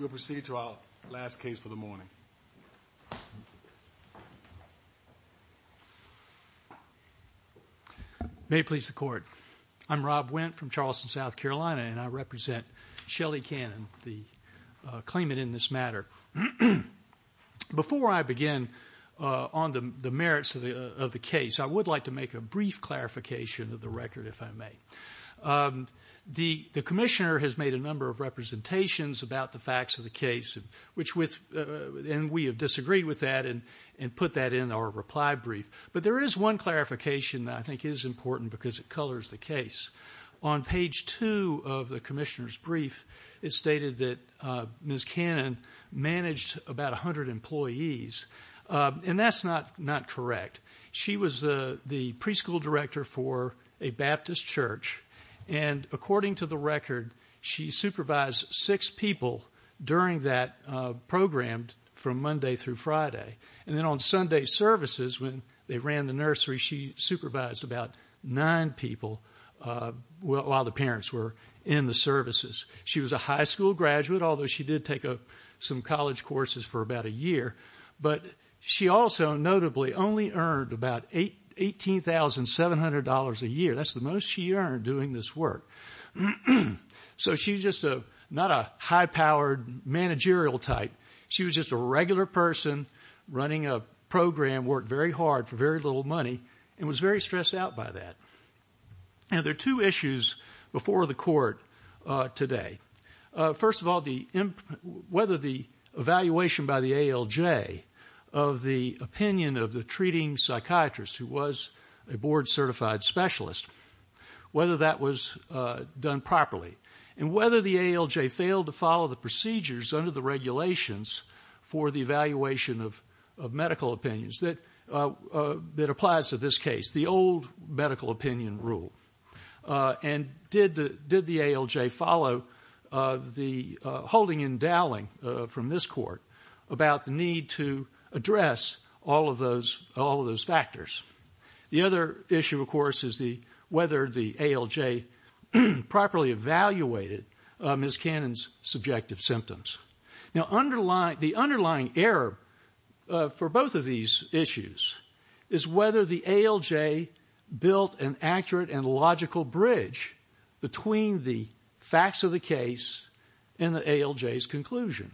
Rob Wendt, Charleston, South Carolina, and I represent Shelley Cannon, the claimant in this matter. Before I begin on the merits of the case, I would like to make a brief clarification of the record, if I may. The Commissioner has made a number of representations about the facts of the case, and we have disagreed with that and put that in our reply brief. But there is one clarification that I think is important because it colors the case. On page 2 of the Commissioner's brief, it's stated that Ms. Cannon managed about 100 employees, and that's not correct. She was the preschool director for a Baptist church, and according to the record, she supervised six people during that program from Monday through Friday. And then on Sunday services, when they ran the nursery, she supervised about nine people while the parents were in the services. She was a high school graduate, although she did take some college courses for about a year. But she also, notably, only earned about $18,700 a year. That's the most she earned doing this work. So she's just not a high-powered managerial type. She was just a regular person running a program, worked very hard for very little money, and was very stressed out by that. And there are two issues before the court today. First of all, whether the evaluation by the ALJ of the opinion of the treating psychiatrist who was a board-certified specialist, whether that was done properly, and whether the ALJ failed to follow the procedures under the regulations for the evaluation of medical opinions that applies to this case, the old medical opinion rule. And did the ALJ follow the holding and dowling from this Court about the need to address all of those factors? The other issue, of course, is whether the ALJ properly evaluated Ms. Cannon's subjective symptoms. Now, the underlying error for both of these issues is whether the ALJ built an accurate and logical bridge between the facts of the case and the ALJ's conclusion.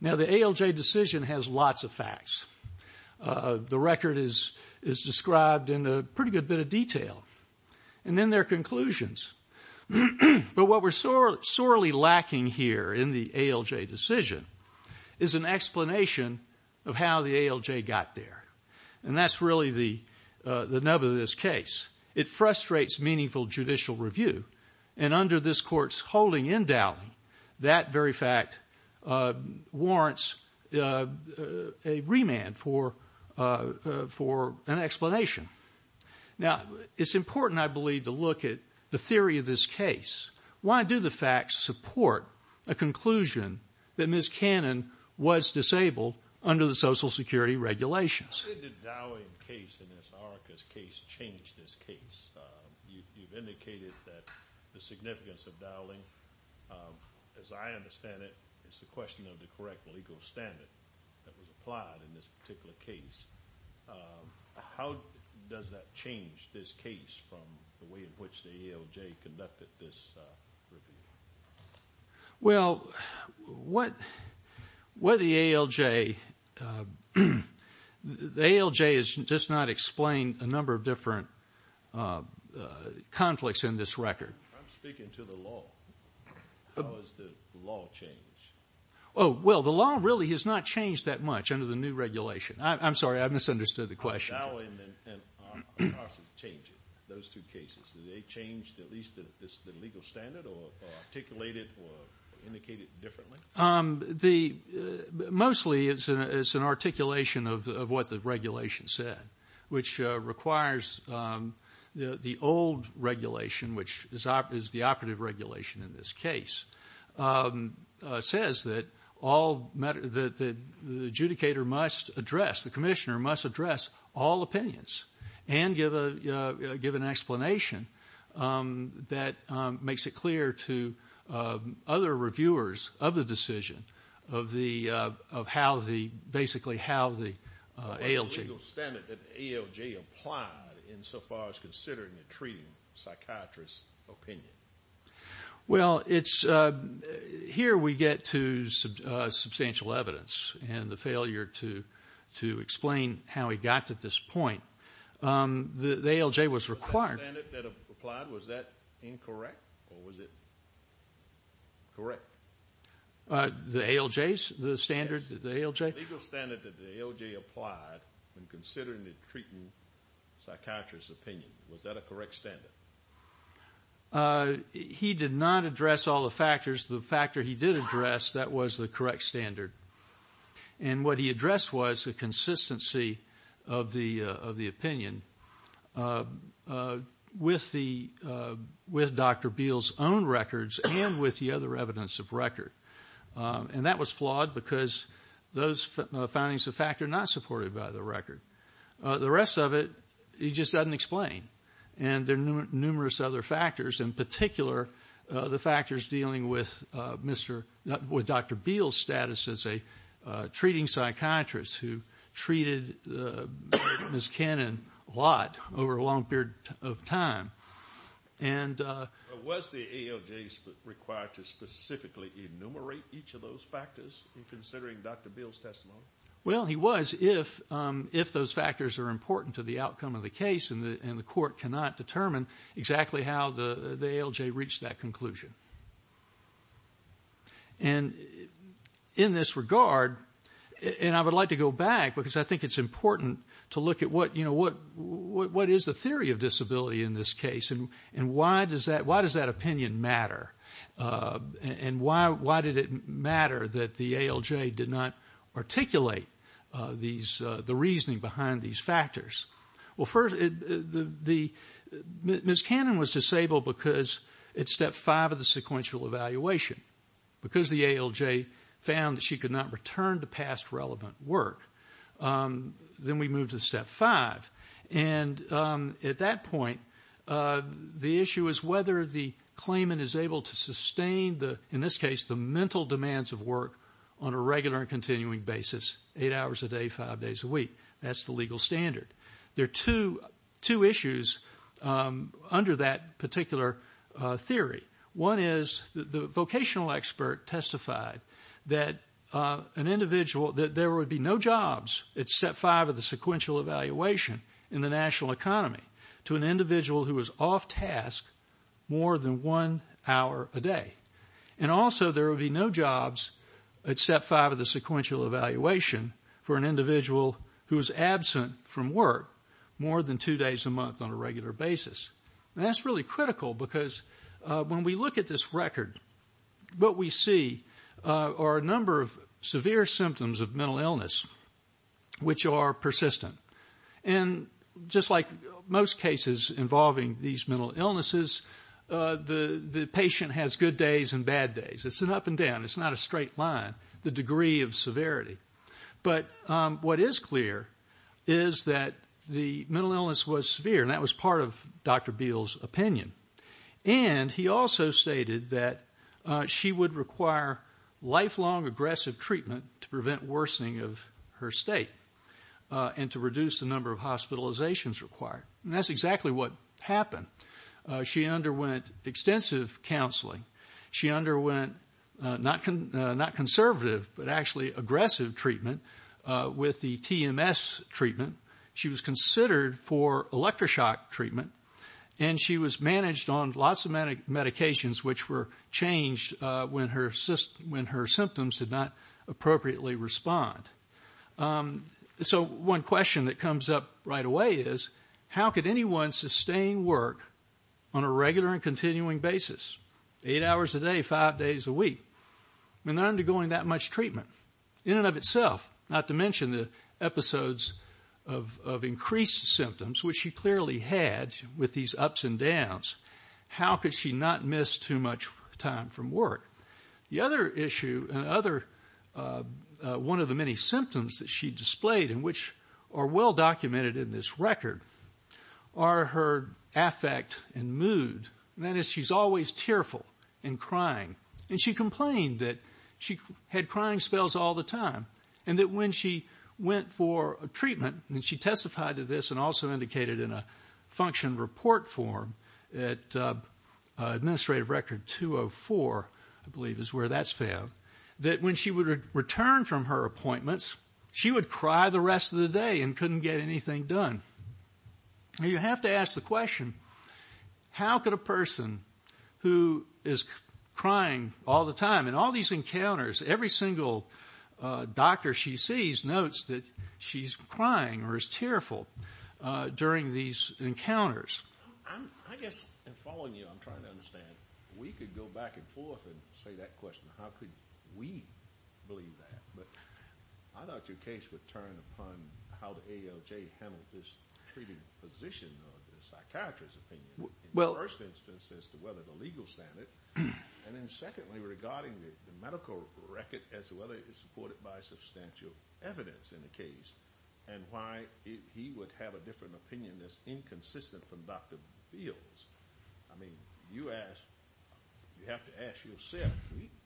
Now, the ALJ decision has lots of facts. The record is described in a pretty good bit of detail. And then there are conclusions. But what we're sorely lacking here in the ALJ decision is an explanation of how the ALJ got there. And that's really the nub of this case. It frustrates meaningful judicial review. And under this Court's holding and dowling, that very fact warrants a remand for an explanation. Now, it's important, I believe, to look at the theory of this case. Why do the facts support a conclusion that Ms. Cannon was disabled under the Social Security regulations? Why did the dowling case in Ms. Arica's case change this case? You've indicated that the correct legal standard that was applied in this particular case. How does that change this case from the way in which the ALJ conducted this review? Well, what the ALJ... The ALJ has just not explained a number of different conflicts in this record. I'm speaking to the law. How has the law changed? Oh, well, the law really has not changed that much under the new regulation. I'm sorry, I misunderstood the question. How has dowling and ARSA changed those two cases? Did they change at least the legal standard or articulate it or indicate it differently? Mostly, it's an articulation of what the regulation said, which requires the old regulation, which is the operative regulation in this case. It says that the adjudicator must address, the commissioner must address all opinions and give an explanation that makes it clear to other reviewers of the decision of basically how the ALJ... Well, here we get to substantial evidence and the failure to explain how we got to this point. The ALJ was required... The standard that applied, was that incorrect or was it correct? The ALJ's standard? Yes, the legal standard that the ALJ applied when considering the treatment psychiatrist's opinion. Was that a correct standard? He did not address all the factors. The factor he did address, that was the correct standard. And what he addressed was the consistency of the opinion with Dr. Beal's own records and with the other evidence of record. And that was flawed because those findings of fact are not supported by the record. The rest of it, he just doesn't explain. And there are numerous other factors, in particular, the factors dealing with Dr. Beal's status as a treating psychiatrist who treated Ms. Cannon a lot over a long period of time. Was the ALJ required to specifically enumerate each of those factors in considering Dr. Beal's testimony? Well, he was, if those factors are important to the outcome of the case, and the court cannot determine exactly how the ALJ reached that conclusion. And in this regard, and I would like to go back because I think it's important to look at what is the theory of disability in this case, and why does that opinion matter? And why did it matter that the ALJ did not articulate the reasoning behind these factors? Well, first, Ms. Cannon was disabled because at step five of the sequential evaluation, because the ALJ found that she could not return to past relevant work. Then we moved to step five. And at that point, the issue is whether the claimant is able to sustain the, in this case, the mental demands of work on a regular and continuing basis, eight hours a day, five days a week. That's the legal standard. There are two issues under that particular theory. One is the vocational expert testified that an individual, that there would be no jobs at step five of the sequential evaluation in the national economy to an individual who was off task more than one hour a day. And also, there would be no jobs at step five of the sequential evaluation for an individual who is absent from work more than two days a month on a regular basis. And that's really critical because when we look at this record, what we see are a number of severe symptoms of mental illness which are persistent. And just like most cases involving these mental illnesses, the patient has good days and bad days. It's an up and down. It's not a straight line, the degree of severity. But what is clear is that the mental illness was severe, and that was part of Dr. Beal's opinion. And he also stated that she would require lifelong aggressive treatment to prevent worsening of her state and to reduce the number of hospitalizations required. And that's exactly what happened. She underwent extensive counseling. She underwent not conservative, but actually aggressive treatment with the TMS treatment. She was considered for electroshock treatment, and she was managed on lots of medications which were changed when her symptoms did not appropriately respond. So one question that comes up right away is, how could anyone sustain work on a regular and continuing basis, eight hours a day, five days a week, when they're undergoing that much treatment? In and of itself, not to mention the episodes of increased symptoms, which she clearly had with these ups and downs, how could she not miss too much time from work? The other issue, one of the many symptoms that she displayed, and which are well documented in this record, are her affect and mood. That is, she's always tearful and crying. And she complained that she had crying spells all the time, and that when she went for treatment, and she testified to this and also indicated in a function report form at Administrative Record 204, I believe is where that's found, that when she would return from her rest of the day and couldn't get anything done. Now you have to ask the question, how could a person who is crying all the time in all these encounters, every single doctor she sees notes that she's crying or is tearful during these encounters. I guess in following you, I'm trying to understand, we could go back and forth and say that question, how could we believe that? But I thought your case would turn upon how the ALJ handled this treating position of the psychiatrist's opinion, in the first instance as to whether the legal standard, and then secondly regarding the medical record as to whether it is supported by substantial evidence in the case, and why he would have a different opinion that's inconsistent from Dr. Fields. I mean, you ask, you have to ask yourself,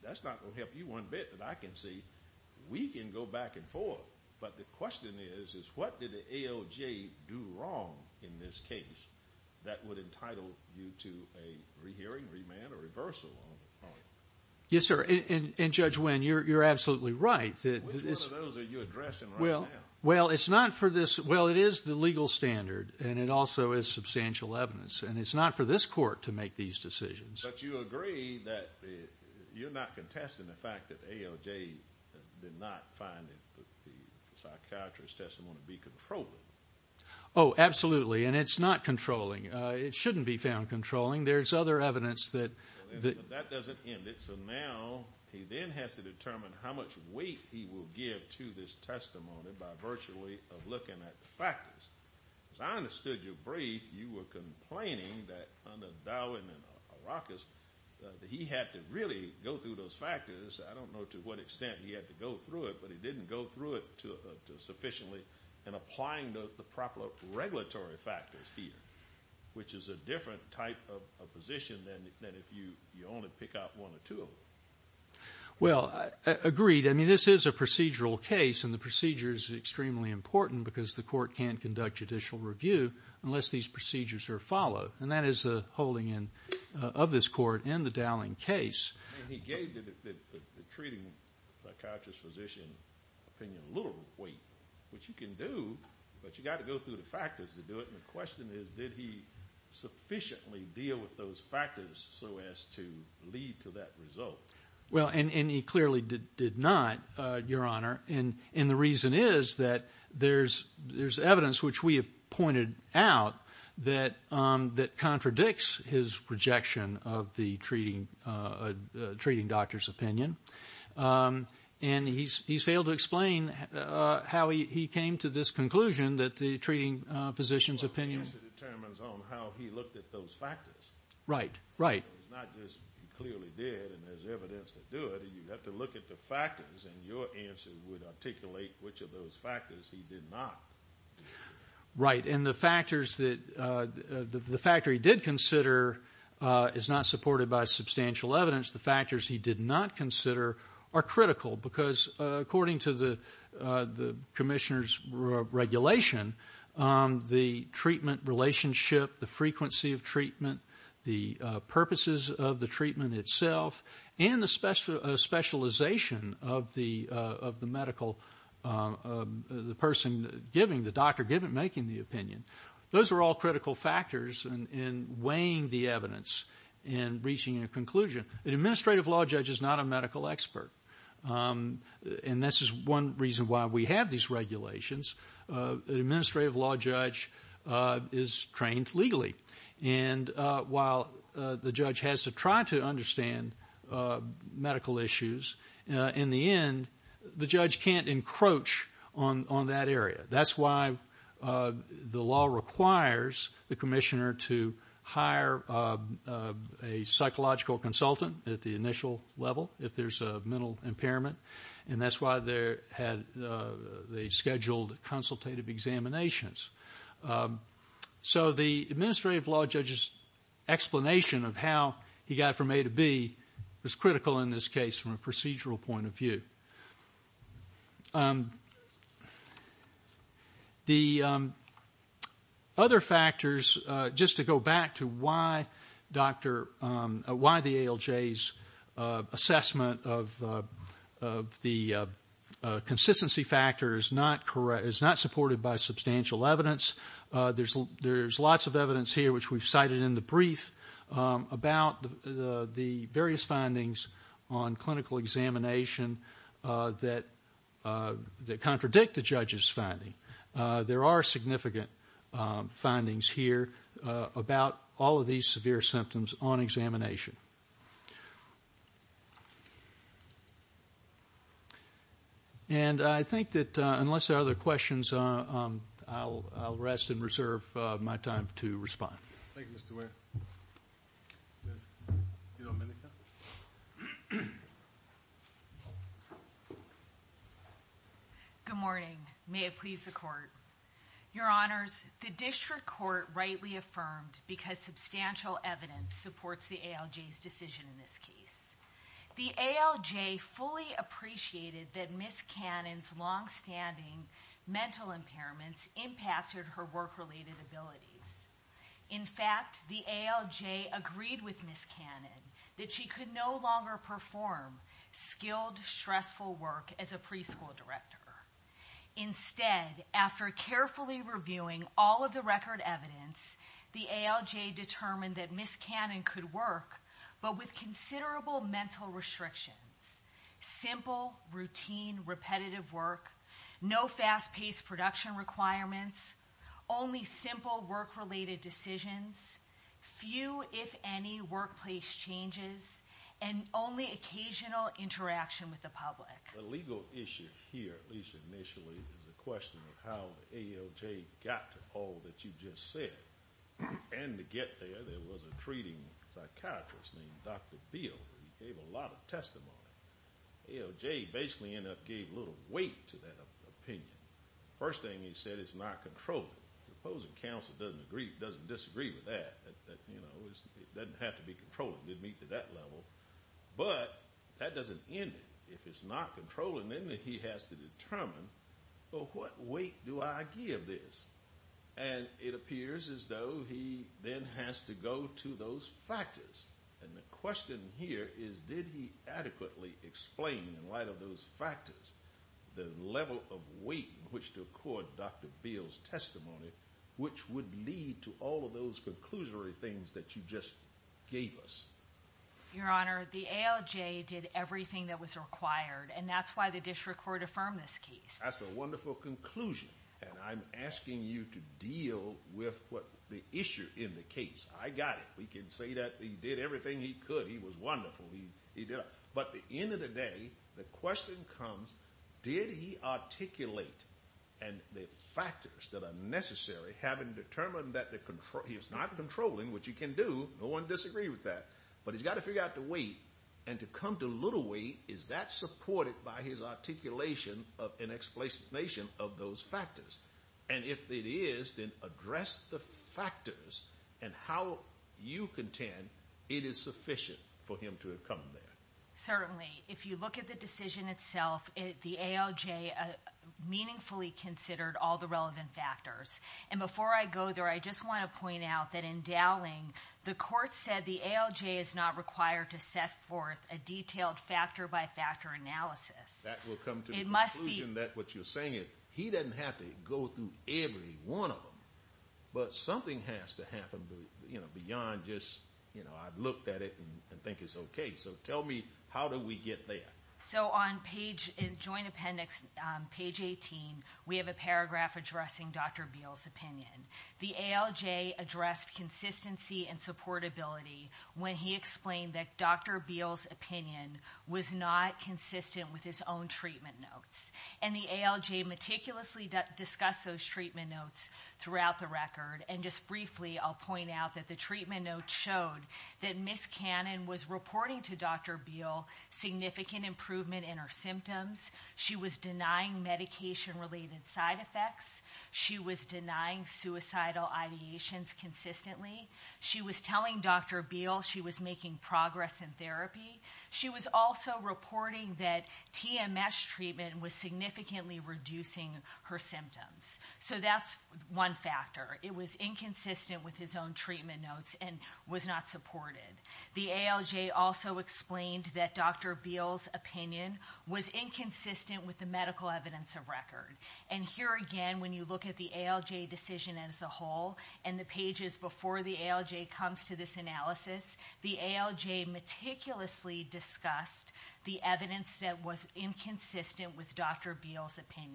that's not going to help you one bit, but I can see we can go back and forth, but the question is, is what did the ALJ do wrong in this case that would entitle you to a rehearing, remand, or reversal? Yes sir, and Judge Winn, you're absolutely right. Which one of those are you addressing right now? Well, it's not for this, well it is the legal standard, and it also is But you agree that, you're not contesting the fact that ALJ did not find that the psychiatrist's testimony to be controlling. Oh absolutely, and it's not controlling, it shouldn't be found controlling, there's other evidence that... That doesn't end it, so now he then has to determine how much weight he will give to this testimony by virtually of looking at the factors. As I understood your brief, you were complaining that under Dowin and Arrakis, that he had to really go through those factors. I don't know to what extent he had to go through it, but he didn't go through it sufficiently in applying the proper regulatory factors here, which is a different type of position than if you only pick out one or two of them. Well, agreed, I mean this is a procedural case, and the procedure is extremely important because the court can't conduct judicial review unless these procedures are followed, and that is the holding of this court in the Dowin case. He gave the treating psychiatrist physician opinion a little weight, which you can do, but you got to go through the factors to do it, and the Well, and he clearly did not, your honor, and the reason is that there's evidence which we have pointed out that contradicts his projection of the treating doctor's opinion, and he's failed to explain how he came to this conclusion that the treating physician's opinion... Well, I guess it determines on how he looked at those factors. Right, right. It's not just he clearly did, and there's evidence to do it. You have to look at the factors, and your answer would articulate which of those factors he did not. Right, and the factors that the factor he did consider is not supported by substantial evidence. The factors he did not consider are critical because according to the commissioner's regulation, the treatment relationship, the frequency of treatment, the purposes of the treatment itself, and the specialization of the medical, the person giving, the doctor making the opinion, those are all critical factors in weighing the evidence and reaching a conclusion. An administrative law judge is not a medical expert, and this is one reason why we have these regulations. An administrative law judge is trained legally, and while the judge has to try to understand medical issues, in the end, the judge can't encroach on that area. That's why the law requires the commissioner to hire a psychological consultant at the initial level if there's a mental impairment, and that's why they scheduled consultative examinations. So the administrative law judge's explanation of how he got from A to B is critical in this case from a procedural point of view. The other factors, just to go back to why the ALJ's assessment of the consistency factor is not supported by substantial evidence, there's lots of evidence here, which we've cited in the brief, about the various findings on clinical examination that contradict the judge's finding. There are significant findings here about all of these severe symptoms on examination. And I think that unless there are other questions, I'll rest and reserve my time to respond. Thank you, Mr. Ware. Ms. DiDomenico? Good morning. May it please the Court. Your Honors, the District Court rightly affirmed because substantial evidence supports the ALJ's decision in this case. The ALJ fully appreciated that Ms. Cannon's longstanding mental impairments impacted her work-related abilities. In fact, the ALJ agreed with Ms. Cannon that she could no longer perform skilled, stressful work as a determined that Ms. Cannon could work, but with considerable mental restrictions. Simple, routine, repetitive work, no fast-paced production requirements, only simple work-related decisions, few, if any, workplace changes, and only occasional interaction with the public. The legal issue here, at least initially, is the question of how the ALJ got to all that you just said. And to get there, there was a treating psychiatrist named Dr. Beal. He gave a lot of testimony. ALJ basically ended up giving a little weight to that opinion. First thing he said, it's not controlled. The opposing counsel doesn't disagree with that. It doesn't have to be controlled to meet to that level. But that doesn't end it. If it's not controlled, then he has to he then has to go to those factors. And the question here is, did he adequately explain, in light of those factors, the level of weight in which to accord Dr. Beal's testimony, which would lead to all of those conclusory things that you just gave us? Your Honor, the ALJ did everything that was required, and that's why the district court That's a wonderful conclusion. And I'm asking you to deal with the issue in the case. I got it. We can say that he did everything he could. He was wonderful. But at the end of the day, the question comes, did he articulate and the factors that are necessary, having determined that he is not controlling, which he can do. No one disagrees with that. But he's got to figure out the weight. And to come to little weight, is that supported by his articulation of an explanation of those factors? And if it is, then address the factors and how you contend it is sufficient for him to have come there. Certainly. If you look at the decision itself, the ALJ meaningfully considered all the relevant factors. And before I go there, I just want to point out that in Dowling, the court said the ALJ is not required to set forth a detailed factor by factor analysis. That will come to the conclusion that what you're saying is he doesn't have to go through every one of them. But something has to happen beyond just, you know, I've looked at it and think it's okay. So tell me, how do we get there? So on page in joint appendix, page 18, we have a paragraph addressing Dr. Beal's opinion. The ALJ addressed consistency and supportability when he explained that Dr. Beal's opinion was not consistent with his own treatment notes. And the ALJ meticulously discussed those treatment notes throughout the record. And just briefly, I'll point out that the treatment notes showed that Ms. Cannon was reporting to Dr. Beal significant improvement in her symptoms. She was denying medication-related side effects. She was denying suicidal ideations consistently. She was telling Dr. Beal she was making progress in therapy. She was also reporting that TMS treatment was significantly reducing her symptoms. So that's one factor. It was inconsistent with his own treatment notes and was not supported. The ALJ also explained that Dr. Beal's opinion was inconsistent with the medical evidence of record. And here again, when you look at the ALJ decision as a whole and the pages before the ALJ comes to this analysis, the ALJ meticulously discussed the evidence that was inconsistent with Dr. Beal's opinion.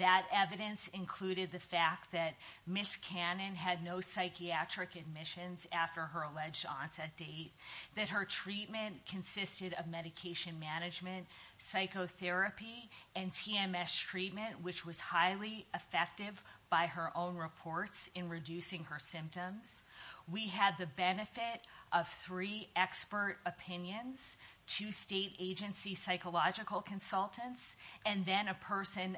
That evidence included the fact that Ms. Cannon had no psychiatric admissions after her alleged onset date, that her treatment consisted of medication management, psychotherapy, and TMS treatment, which was highly effective by her own reports in reducing her symptoms. We had the benefit of three expert opinions, two state agency psychological consultants, and then a person,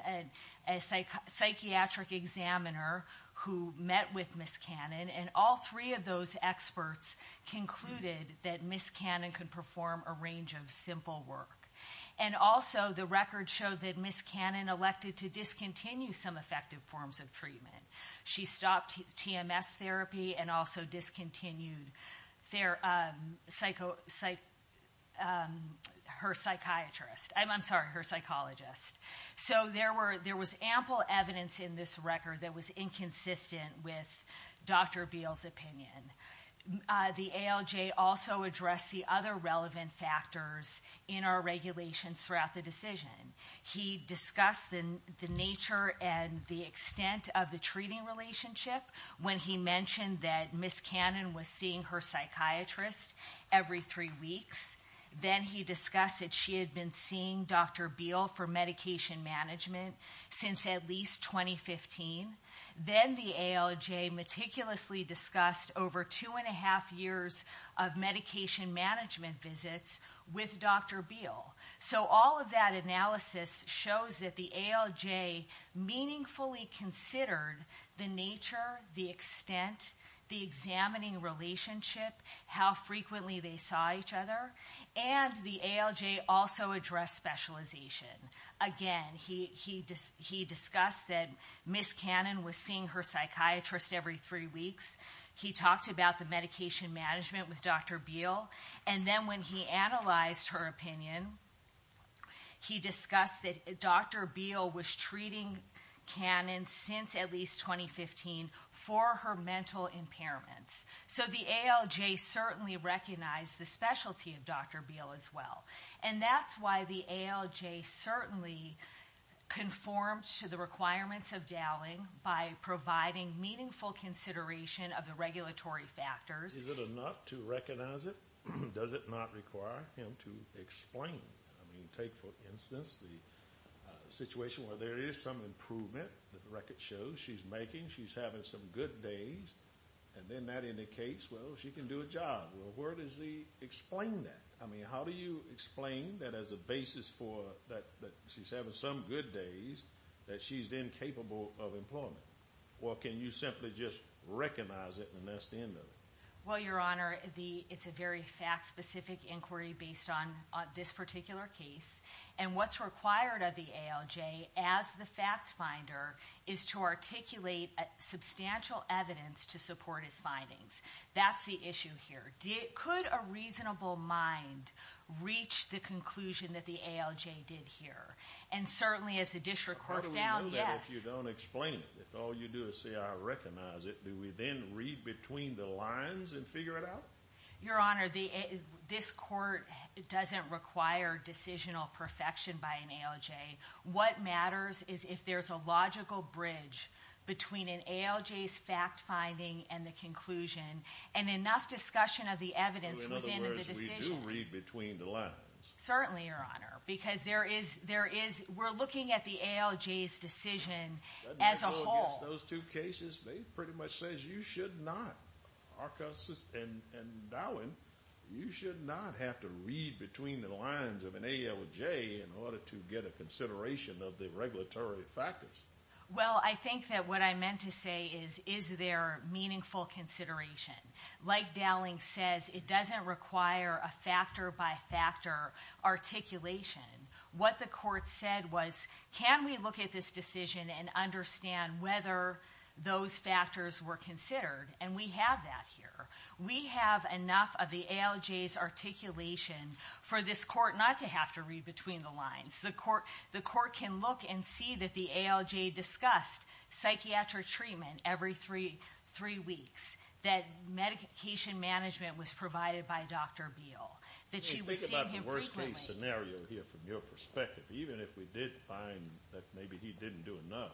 a psychiatric examiner, who met with Ms. Cannon. And all three of those experts concluded that Ms. Cannon could perform a range of simple work. And also, the record showed that Ms. Cannon elected to discontinue some effective forms of treatment. She stopped TMS therapy and also discontinued her psychologist. So there was ample evidence in this record that was inconsistent with Dr. Beal's opinion. The ALJ also addressed the other relevant factors in our regulations throughout the decision. He discussed the nature and the extent of the relationship when he mentioned that Ms. Cannon was seeing her psychiatrist every three weeks. Then he discussed that she had been seeing Dr. Beal for medication management since at least 2015. Then the ALJ meticulously discussed over two and a half years of medication management visits with Dr. Beal. So all of that analysis shows that the ALJ meaningfully considered the nature, the extent, the examining relationship, how frequently they saw each other. And the ALJ also addressed specialization. Again, he discussed that Ms. Cannon was seeing her psychiatrist every three weeks. He talked about the medication management with Dr. Beal. And then when he analyzed her opinion, he discussed that Dr. Beal was treating Cannon since at least 2015 for her mental impairments. So the ALJ certainly recognized the specialty of Dr. Beal as well. And that's why the ALJ certainly conformed to the requirements of Dowling by providing meaningful consideration of the regulatory factors. Is it enough to recognize it? Does it not require him to explain? I mean, take for instance the situation where there is some improvement that the record shows she's making. She's having some good days. And then that indicates, well, she can do a job. Well, where does he explain that? I mean, how do you explain that as a basis for that she's having some good days that she's incapable of employment? Or can you simply just recognize it and that's the end of it? Well, Your Honor, it's a very fact-specific inquiry based on this particular case. And what's required of the ALJ as the fact finder is to articulate substantial evidence to support his findings. That's the issue here. Could a reasonable mind reach the conclusion that the ALJ did here? And certainly as a district court found, yes. How do we know that if you don't explain it? If all you do is say, I recognize it, do we then read between the lines and figure it out? Your Honor, this court doesn't require decisional perfection by an ALJ. What matters is if there's a logical bridge between an ALJ's fact-finding and the conclusion and enough discussion of the evidence within the decision. In other words, we do read between the lines. Certainly, Your Honor, because we're looking at the ALJ's decision as a whole. I guess those two cases, they pretty much say you should not, and Dowling, you should not have to read between the lines of an ALJ in order to get a consideration of the regulatory factors. Well, I think that what I meant to say is, is there meaningful consideration? Like Dowling says, it doesn't require a factor-by-factor articulation. What the court said was, can we look at this decision and understand whether those factors were considered? And we have that here. We have enough of the ALJ's articulation for this court not to have to read between the lines. The court can look and see that the ALJ discussed psychiatric treatment every three weeks. That medication management was provided by Dr. Beal. Think about the worst case scenario here from your perspective. Even if we did find that maybe he didn't do enough,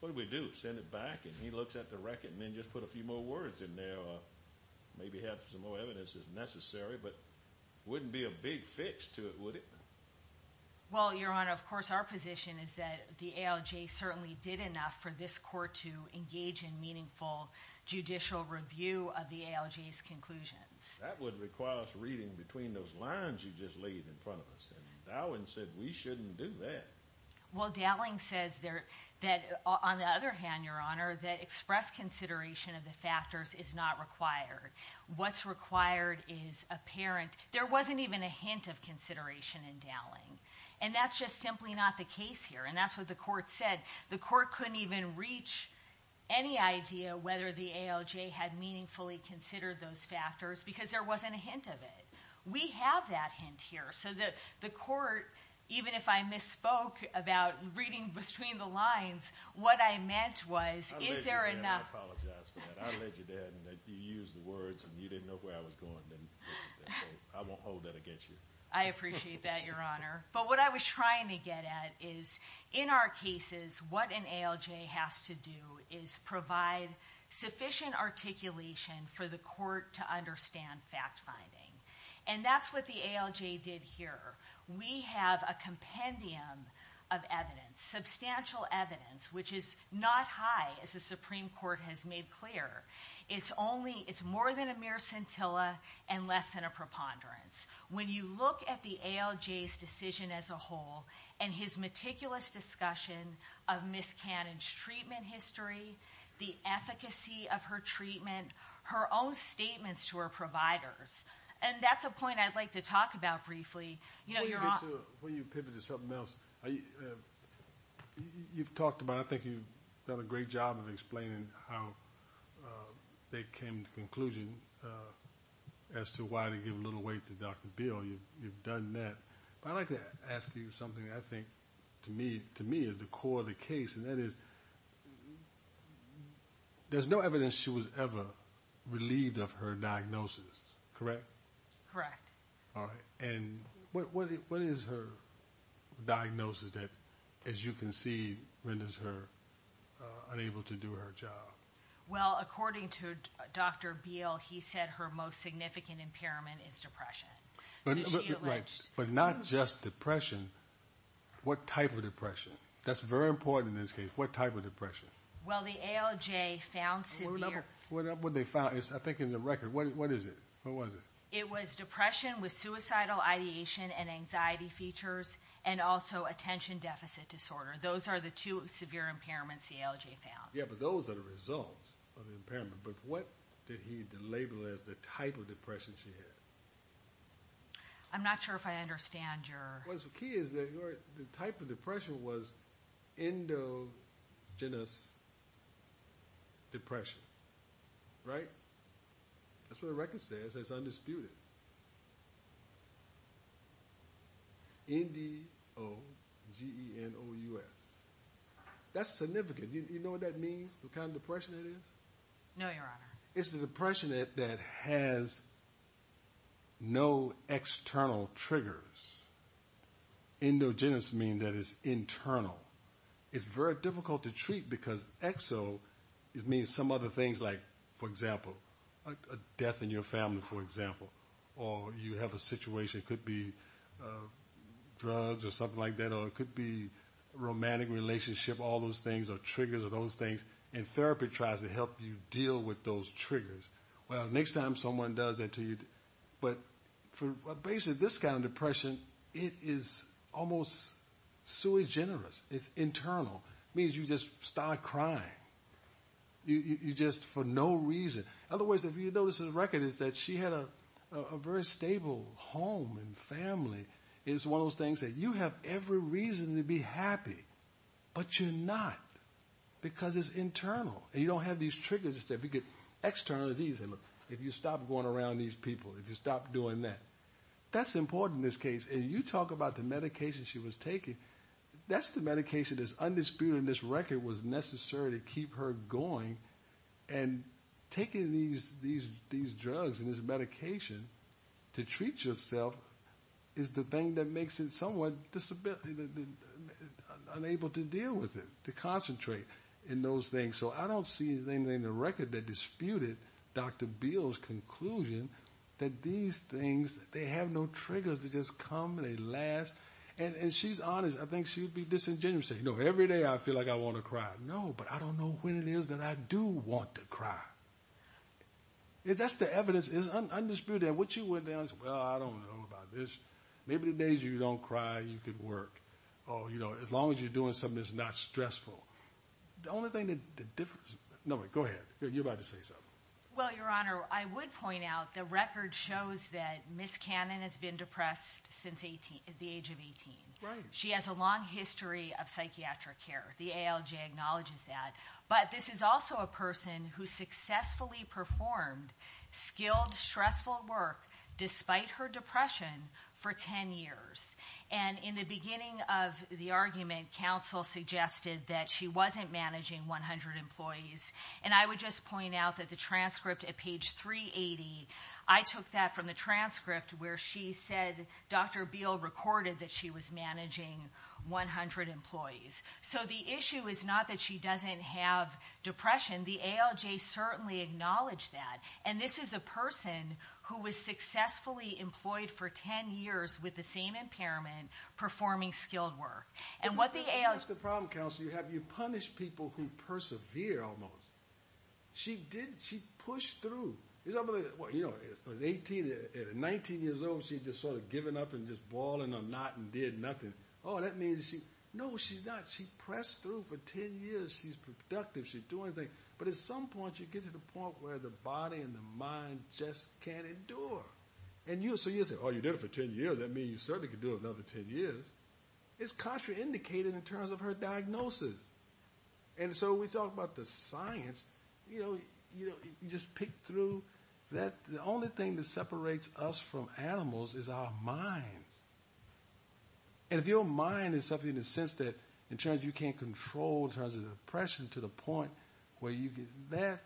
what do we do? Send it back and he looks at the record and then just put a few more words in there or maybe have some more evidence if necessary. But it wouldn't be a big fix to it, would it? Well, Your Honor, of course, our position is that the ALJ certainly did enough for this court to engage in meaningful judicial review of the ALJ's conclusions. That would require us reading between those lines you just laid in front of us. And Dowling said we shouldn't do that. Well, Dowling says that on the other hand, Your Honor, that express consideration of the factors is not required. What's required is apparent. There wasn't even a hint of consideration in Dowling. And that's just simply not the case here. And that's what the court said. The court couldn't even reach any idea whether the ALJ had meaningfully considered those factors because there wasn't a hint of it. We have that hint here. So the court, even if I misspoke about reading between the lines, what I meant was, is there enough- I'll let you do that and I apologize for that. I'll let you do that and if you use the words and you didn't know where I was going, then I won't hold that against you. I appreciate that, Your Honor. But what I was trying to get at is, in our cases, what an ALJ has to do is provide sufficient articulation for the court to understand fact-finding. And that's what the ALJ did here. We have a compendium of evidence, substantial evidence, which is not high, as the Supreme Court has made clear. It's more than a mere scintilla and less than a preponderance. When you look at the ALJ's decision as a whole and his meticulous discussion of Ms. Cannon's treatment history, the efficacy of her treatment, her own statements to her providers, and that's a point I'd like to talk about briefly. You know, Your Honor- Before you pivot to something else, you've talked about, I think you've done a great job of explaining how they came to the conclusion as to why they gave little weight to Dr. Beale. You've done that. But I'd like to ask you something that I think, to me, is the core of the case, and that is, there's no evidence she was ever relieved of her diagnosis, correct? Correct. All right. And what is her diagnosis that, as you can see, renders her unable to do her job? Well, according to Dr. Beale, he said her most significant impairment is depression. But not just depression. What type of depression? That's very important in this case. What type of depression? Well, the ALJ found severe- What did they find? I think in the record. What is it? What was it? It was depression with suicidal ideation and anxiety features and also attention deficit disorder. Those are the two severe impairments the ALJ found. But those are the results of the impairment. But what did he label as the type of depression she had? I'm not sure if I understand your- Well, the key is that the type of depression was endogenous depression, right? That's what the record says. It's undisputed. N-D-O-G-E-N-O-U-S. That's significant. You know what that means? What kind of depression it is? No, Your Honor. It's the depression that has no external triggers. Endogenous means that it's internal. It's very difficult to treat because exo means some other things like, for example, death in your family, for example. Or you have a situation. It could be drugs or something like that. It could be a romantic relationship. All those things are triggers of those things. And therapy tries to help you deal with those triggers. Well, next time someone does that to you. But for basically this kind of depression, it is almost sui generis. It's internal. It means you just start crying. You just for no reason. Otherwise, if you notice in the record is that she had a very stable home and family. It's one of those things that you have every reason to be happy. But you're not. Because it's internal. And you don't have these triggers to say if you get external disease. And look, if you stop going around these people. If you stop doing that. That's important in this case. And you talk about the medication she was taking. That's the medication that's undisputed in this record was necessary to keep her going. And taking these drugs and this medication to treat yourself is the thing that makes it somewhat unable to deal with it. To concentrate in those things. So I don't see anything in the record that disputed Dr. Beal's conclusion that these things, they have no triggers. They just come and they last. And she's honest. I think she would be disingenuously. No, every day I feel like I want to cry. No, but I don't know when it is that I do want to cry. That's the evidence. It's undisputed. What you went down is, well, I don't know about this. Maybe the days you don't cry, you could work. Oh, you know, as long as you're doing something that's not stressful. The only thing that the difference. No, go ahead. You're about to say something. Well, Your Honor, I would point out the record shows that Ms. Cannon has been depressed since the age of 18. She has a long history of psychiatric care. The ALJ acknowledges that. But this is also a person who successfully performed skilled, stressful work despite her depression for 10 years. And in the beginning of the argument, counsel suggested that she wasn't managing 100 employees. And I would just point out that the transcript at page 380, I took that from the transcript where she said Dr. Beal recorded that she was managing 100 employees. So the issue is not that she doesn't have depression. The ALJ certainly acknowledged that. And this is a person who was successfully employed for 10 years with the same impairment performing skilled work. And what the ALJ... That's the problem, counsel. You have you punish people who persevere almost. She did. She pushed through. It's unbelievable. You know, at 19 years old, she just sort of given up and just balling a knot and did nothing. Oh, that means she... No, she's not. She pressed through for 10 years. She's productive. She's doing things. But at some point, you get to the point where the body and the mind just can't endure. And so you say, oh, you did it for 10 years. That means you certainly could do it another 10 years. It's contraindicated in terms of her diagnosis. And so we talk about the science. You know, you just pick through that. The only thing that separates us from animals is our minds. And if your mind is something in the sense that in terms you can't control in terms of depression to the point where you get that,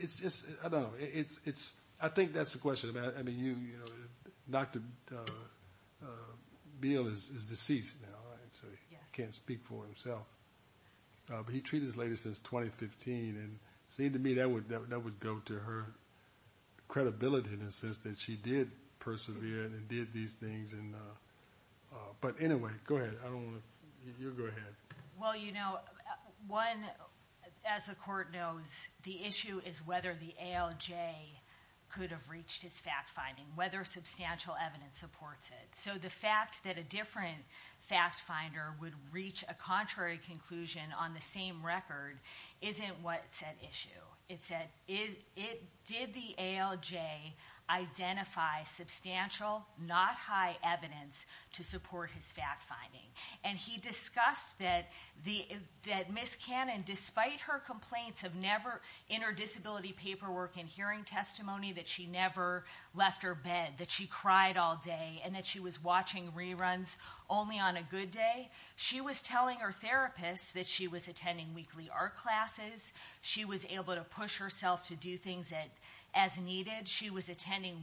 it's just... I don't know. It's... I think that's the question about... I mean, you know, Dr. Beale is deceased now. And so he can't speak for himself. But he treated his lady since 2015. And it seemed to me that would go to her credibility in the sense that she did persevere. And it did these things. And... But anyway, go ahead. I don't want to... You go ahead. Well, you know, one, as the court knows, the issue is whether the ALJ could have reached his fact finding, whether substantial evidence supports it. So the fact that a different fact finder would reach a contrary conclusion on the same record isn't what's at issue. It said, did the ALJ identify substantial, not high evidence to support his fact finding? And he discussed that Ms. Cannon, despite her complaints of never... In her disability paperwork and hearing testimony that she never left her bed, that she cried all day and that she was watching reruns only on a good day. She was telling her therapist that she was attending weekly art classes. She was able to push herself to do things as needed. She was attending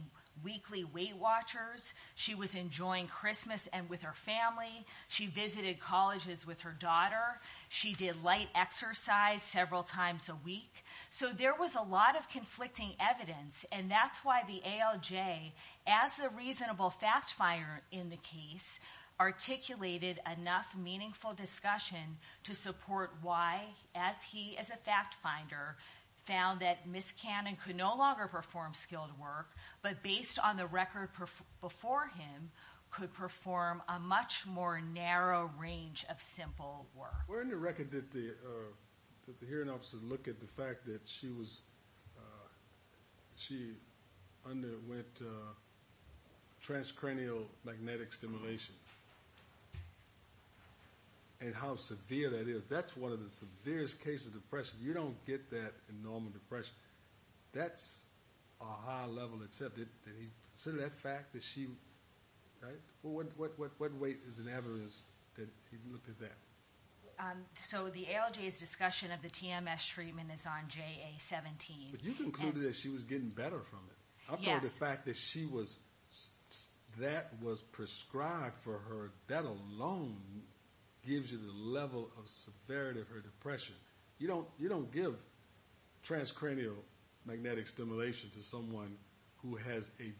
weekly Weight Watchers. She was enjoying Christmas and with her family. She visited colleges with her daughter. She did light exercise several times a week. So there was a lot of conflicting evidence. And that's why the ALJ, as a reasonable fact finder in the case, articulated enough meaningful discussion to support why, as he, as a fact finder, found that Ms. Cannon could no longer perform skilled work, but based on the record before him, could perform a much more narrow range of simple work. Where in the record did the hearing officer look at the fact that she was... She underwent transcranial magnetic stimulation? And how severe that is. That's one of the severest cases of depression. You don't get that in normal depression. That's a high level, except that he considered that fact that she, right? What weight is it ever is that he looked at that? So the ALJ's discussion of the TMS treatment is on JA-17. But you concluded that she was getting better from it. Yes. I'm talking about the fact that she was... That alone gives you the level of severity of her depression. You don't give transcranial magnetic stimulation to someone who has a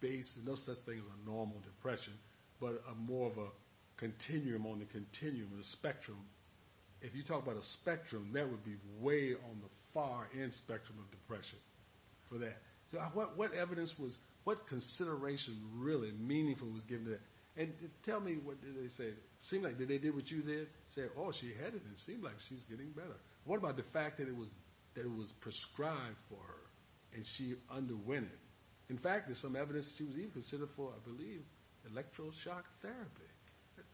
base, no such thing as a normal depression, but more of a continuum on the continuum of the spectrum. If you talk about a spectrum, that would be way on the far end spectrum of depression. For that, what evidence was... And tell me, what did they say? Seemed like, did they do what you did? Say, oh, she had it and seemed like she's getting better. What about the fact that it was prescribed for her and she underwent it? In fact, there's some evidence she was even considered for, I believe, electroshock therapy.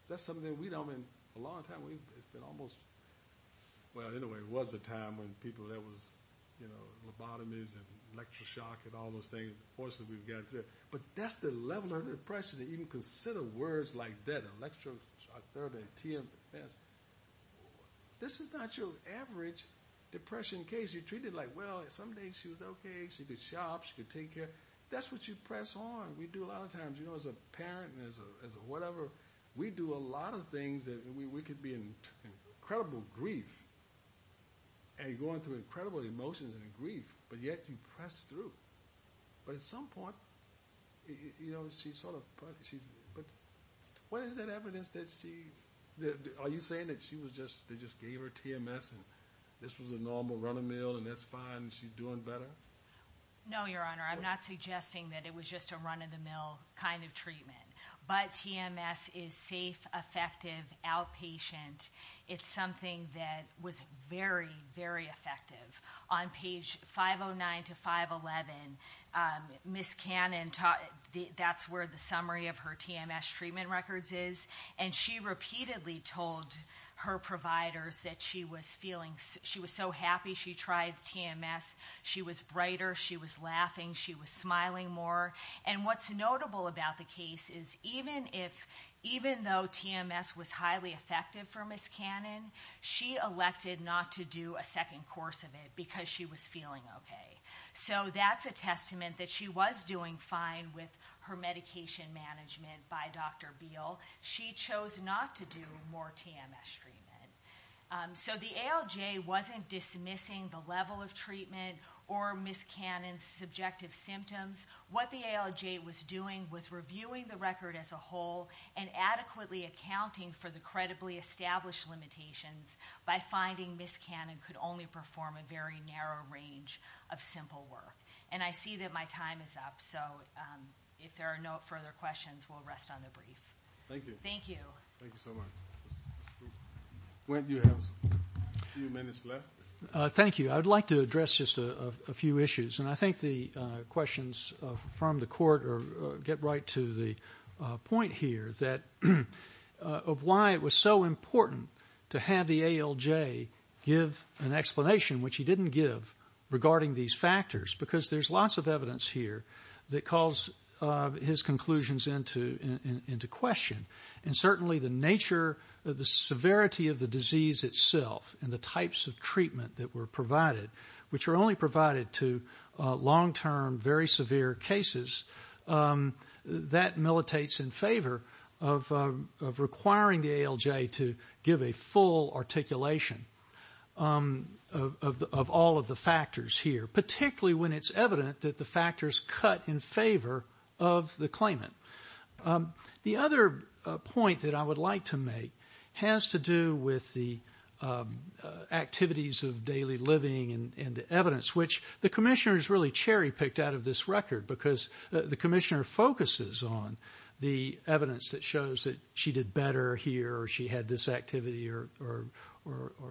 That's something that we don't... I mean, a long time, we've been almost... Well, anyway, it was a time when people, there was, you know, lobotomies and electroshock and all those things, the forces we've gotten through. But that's the level of depression that you can consider words like that, electroshock therapy, TMS. This is not your average depression case. You treat it like, well, some days she was okay. She could shop, she could take care. That's what you press on. We do a lot of times, you know, as a parent, and as a whatever, we do a lot of things that we could be in incredible grief and going through incredible emotions and grief, but yet you press through. But at some point, you know, she sort of... But what is that evidence that she... Are you saying that she was just, they just gave her TMS and this was a normal run of the mill and that's fine and she's doing better? No, Your Honor, I'm not suggesting that it was just a run of the mill kind of treatment. But TMS is safe, effective, outpatient. It's something that was very, very effective. On page 509 to 511, Ms. Cannon taught, that's where the summary of her TMS treatment records is. And she repeatedly told her providers that she was feeling, she was so happy she tried TMS. She was brighter, she was laughing, she was smiling more. And what's notable about the case is even if, even though TMS was highly effective for Ms. Cannon, she elected not to do a second course of it because she was feeling okay. So that's a testament that she was doing fine with her medication management by Dr. Beal. She chose not to do more TMS treatment. So the ALJ wasn't dismissing the level of treatment or Ms. Cannon's subjective symptoms. What the ALJ was doing was reviewing the record as a whole and adequately accounting for the credibly established limitations by finding Ms. Cannon could only perform a very narrow range of simple work. And I see that my time is up. So if there are no further questions, we'll rest on the brief. Thank you. Thank you. Thank you so much. When do you have a few minutes left? Thank you. I'd like to address just a few issues. And I think the questions from the court or get right to the point here that of why it was so important to have the ALJ give an explanation, which he didn't give regarding these factors, because there's lots of evidence here that calls his conclusions into question. And certainly the nature of the severity of the disease itself and the types of treatment that were provided, which are only provided to long-term, very severe cases, that militates in favor of requiring the ALJ to give a full articulation of all of the factors here, particularly when it's evident that the factors cut in favor of the claimant. The other point that I would like to make has to do with the activities of daily living and the evidence, which the commissioner has really cherry picked out of this record, because the commissioner focuses on the evidence that shows that she did better here or she had this activity or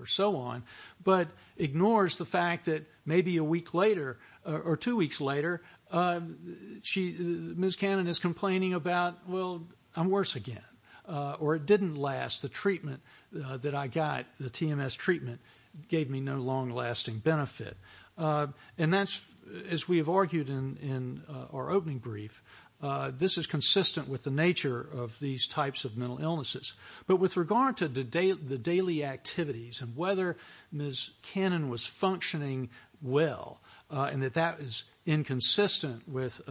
so on, but ignores the fact that maybe a week later or two weeks later, Ms. Cannon is complaining about, well, I'm worse again, or it didn't last. The treatment that I got, the TMS treatment gave me no long-lasting benefit. And that's, as we have argued in our opening brief, this is consistent with the nature of these types of mental illnesses. But with regard to the daily activities and whether Ms. Cannon was functioning well and that that is inconsistent with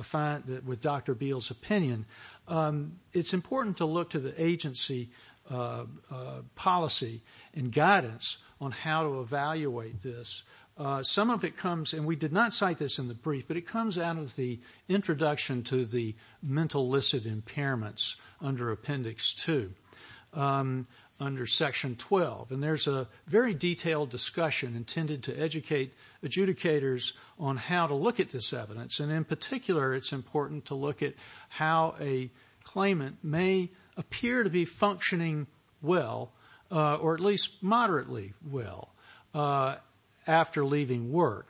Dr. Beal's opinion, it's important to look to the agency policy and guidance on how to evaluate this. Some of it comes, and we did not cite this in the brief, but it comes out of the introduction to the mental listed impairments under appendix two, under section 12. And there's a very detailed discussion intended to educate adjudicators on how to look at this evidence. And in particular, it's important to look at how a claimant may appear to be functioning well or at least moderately well after leaving work.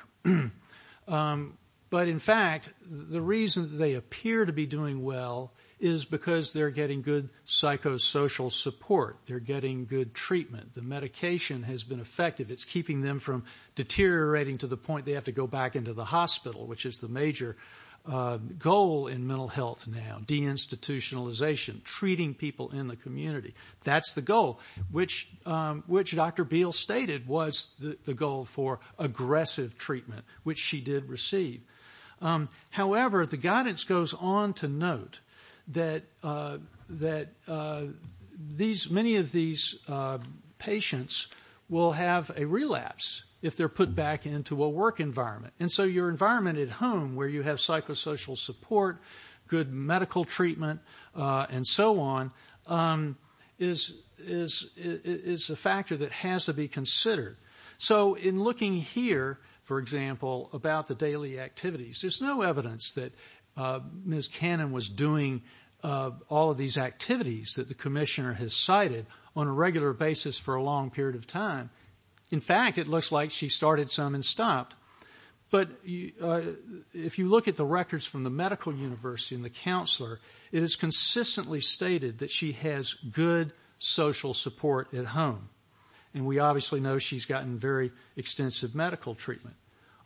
But in fact, the reason they appear to be doing well is because they're getting good psychosocial support. They're getting good treatment. The medication has been effective. It's keeping them from deteriorating to the point they have to go back into the hospital, which is the major goal in mental health now, deinstitutionalization, treating people in the community. That's the goal, which Dr. Beal stated was the goal for aggressive treatment, which she did receive. However, the guidance goes on to note that many of these patients will have a relapse if they're put back into a work environment. And so your environment at home, where you have psychosocial support, good medical treatment, and so on, is a factor that has to be considered. So in looking here, for example, about the daily activities, there's no evidence that Ms. Cannon was doing all of these activities that the commissioner has cited on a regular basis for a long period of time. In fact, it looks like she started some and stopped. But if you look at the records from the medical university and the counselor, it is consistently stated that she has good social support at home. And we obviously know she's gotten very extensive medical treatment.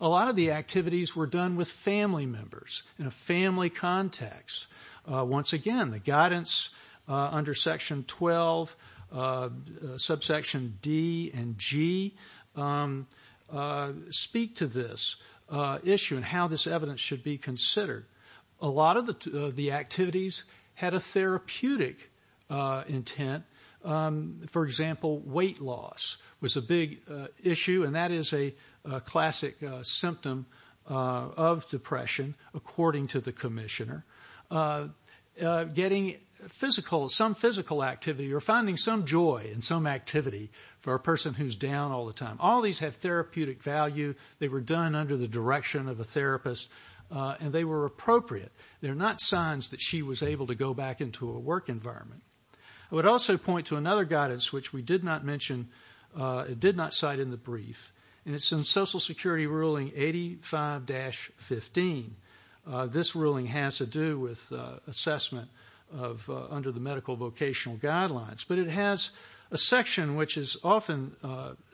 A lot of the activities were done with family members in a family context. Once again, the guidance under section 12, subsection D and G speak to this issue and how this evidence should be considered. A lot of the activities had a therapeutic intent. For example, weight loss was a big issue. And that is a classic symptom of depression, according to the commissioner. Getting physical, some physical activity or finding some joy in some activity for a person who's down all the time. All these have therapeutic value. They were done under the direction of a therapist and they were appropriate. They're not signs that she was able to go back into a work environment. I would also point to another guidance, which we did not mention. It did not cite in the brief. And it's in Social Security ruling 85-15. This ruling has to do with assessment under the medical vocational guidelines. But it has a section which is often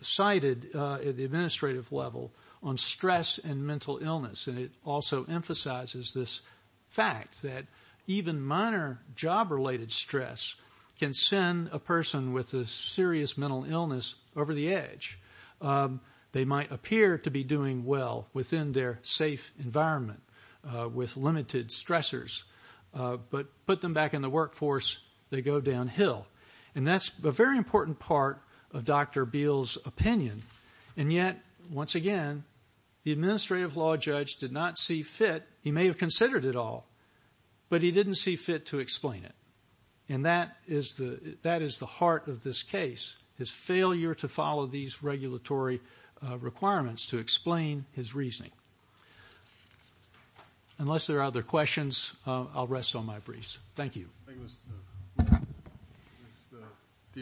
cited at the administrative level on stress and mental illness. It also emphasizes this fact that even minor job-related stress can send a person with a serious mental illness over the edge. They might appear to be doing well within their safe environment with limited stressors. But put them back in the workforce, they go downhill. And that's a very important part of Dr. Beal's opinion. And yet, once again, the administrative law judge did not see fit. He may have considered it all, but he didn't see fit to explain it. And that is the heart of this case, his failure to follow these regulatory requirements to explain his reasoning. Unless there are other questions, I'll rest on my briefs. Thank you. Thank you, Mr.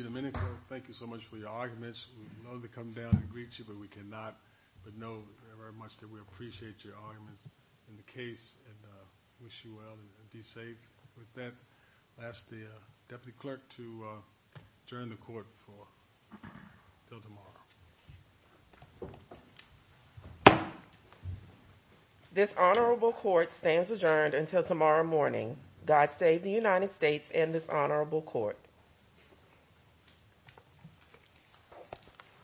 Domenico. Thank you so much for your arguments. We know they come down and greet you, but we cannot but know very much that we appreciate your arguments in the case and wish you well and be safe with that. I'll ask the deputy clerk to adjourn the court until tomorrow. This honorable court stands adjourned until tomorrow morning. God save the United States and this honorable court.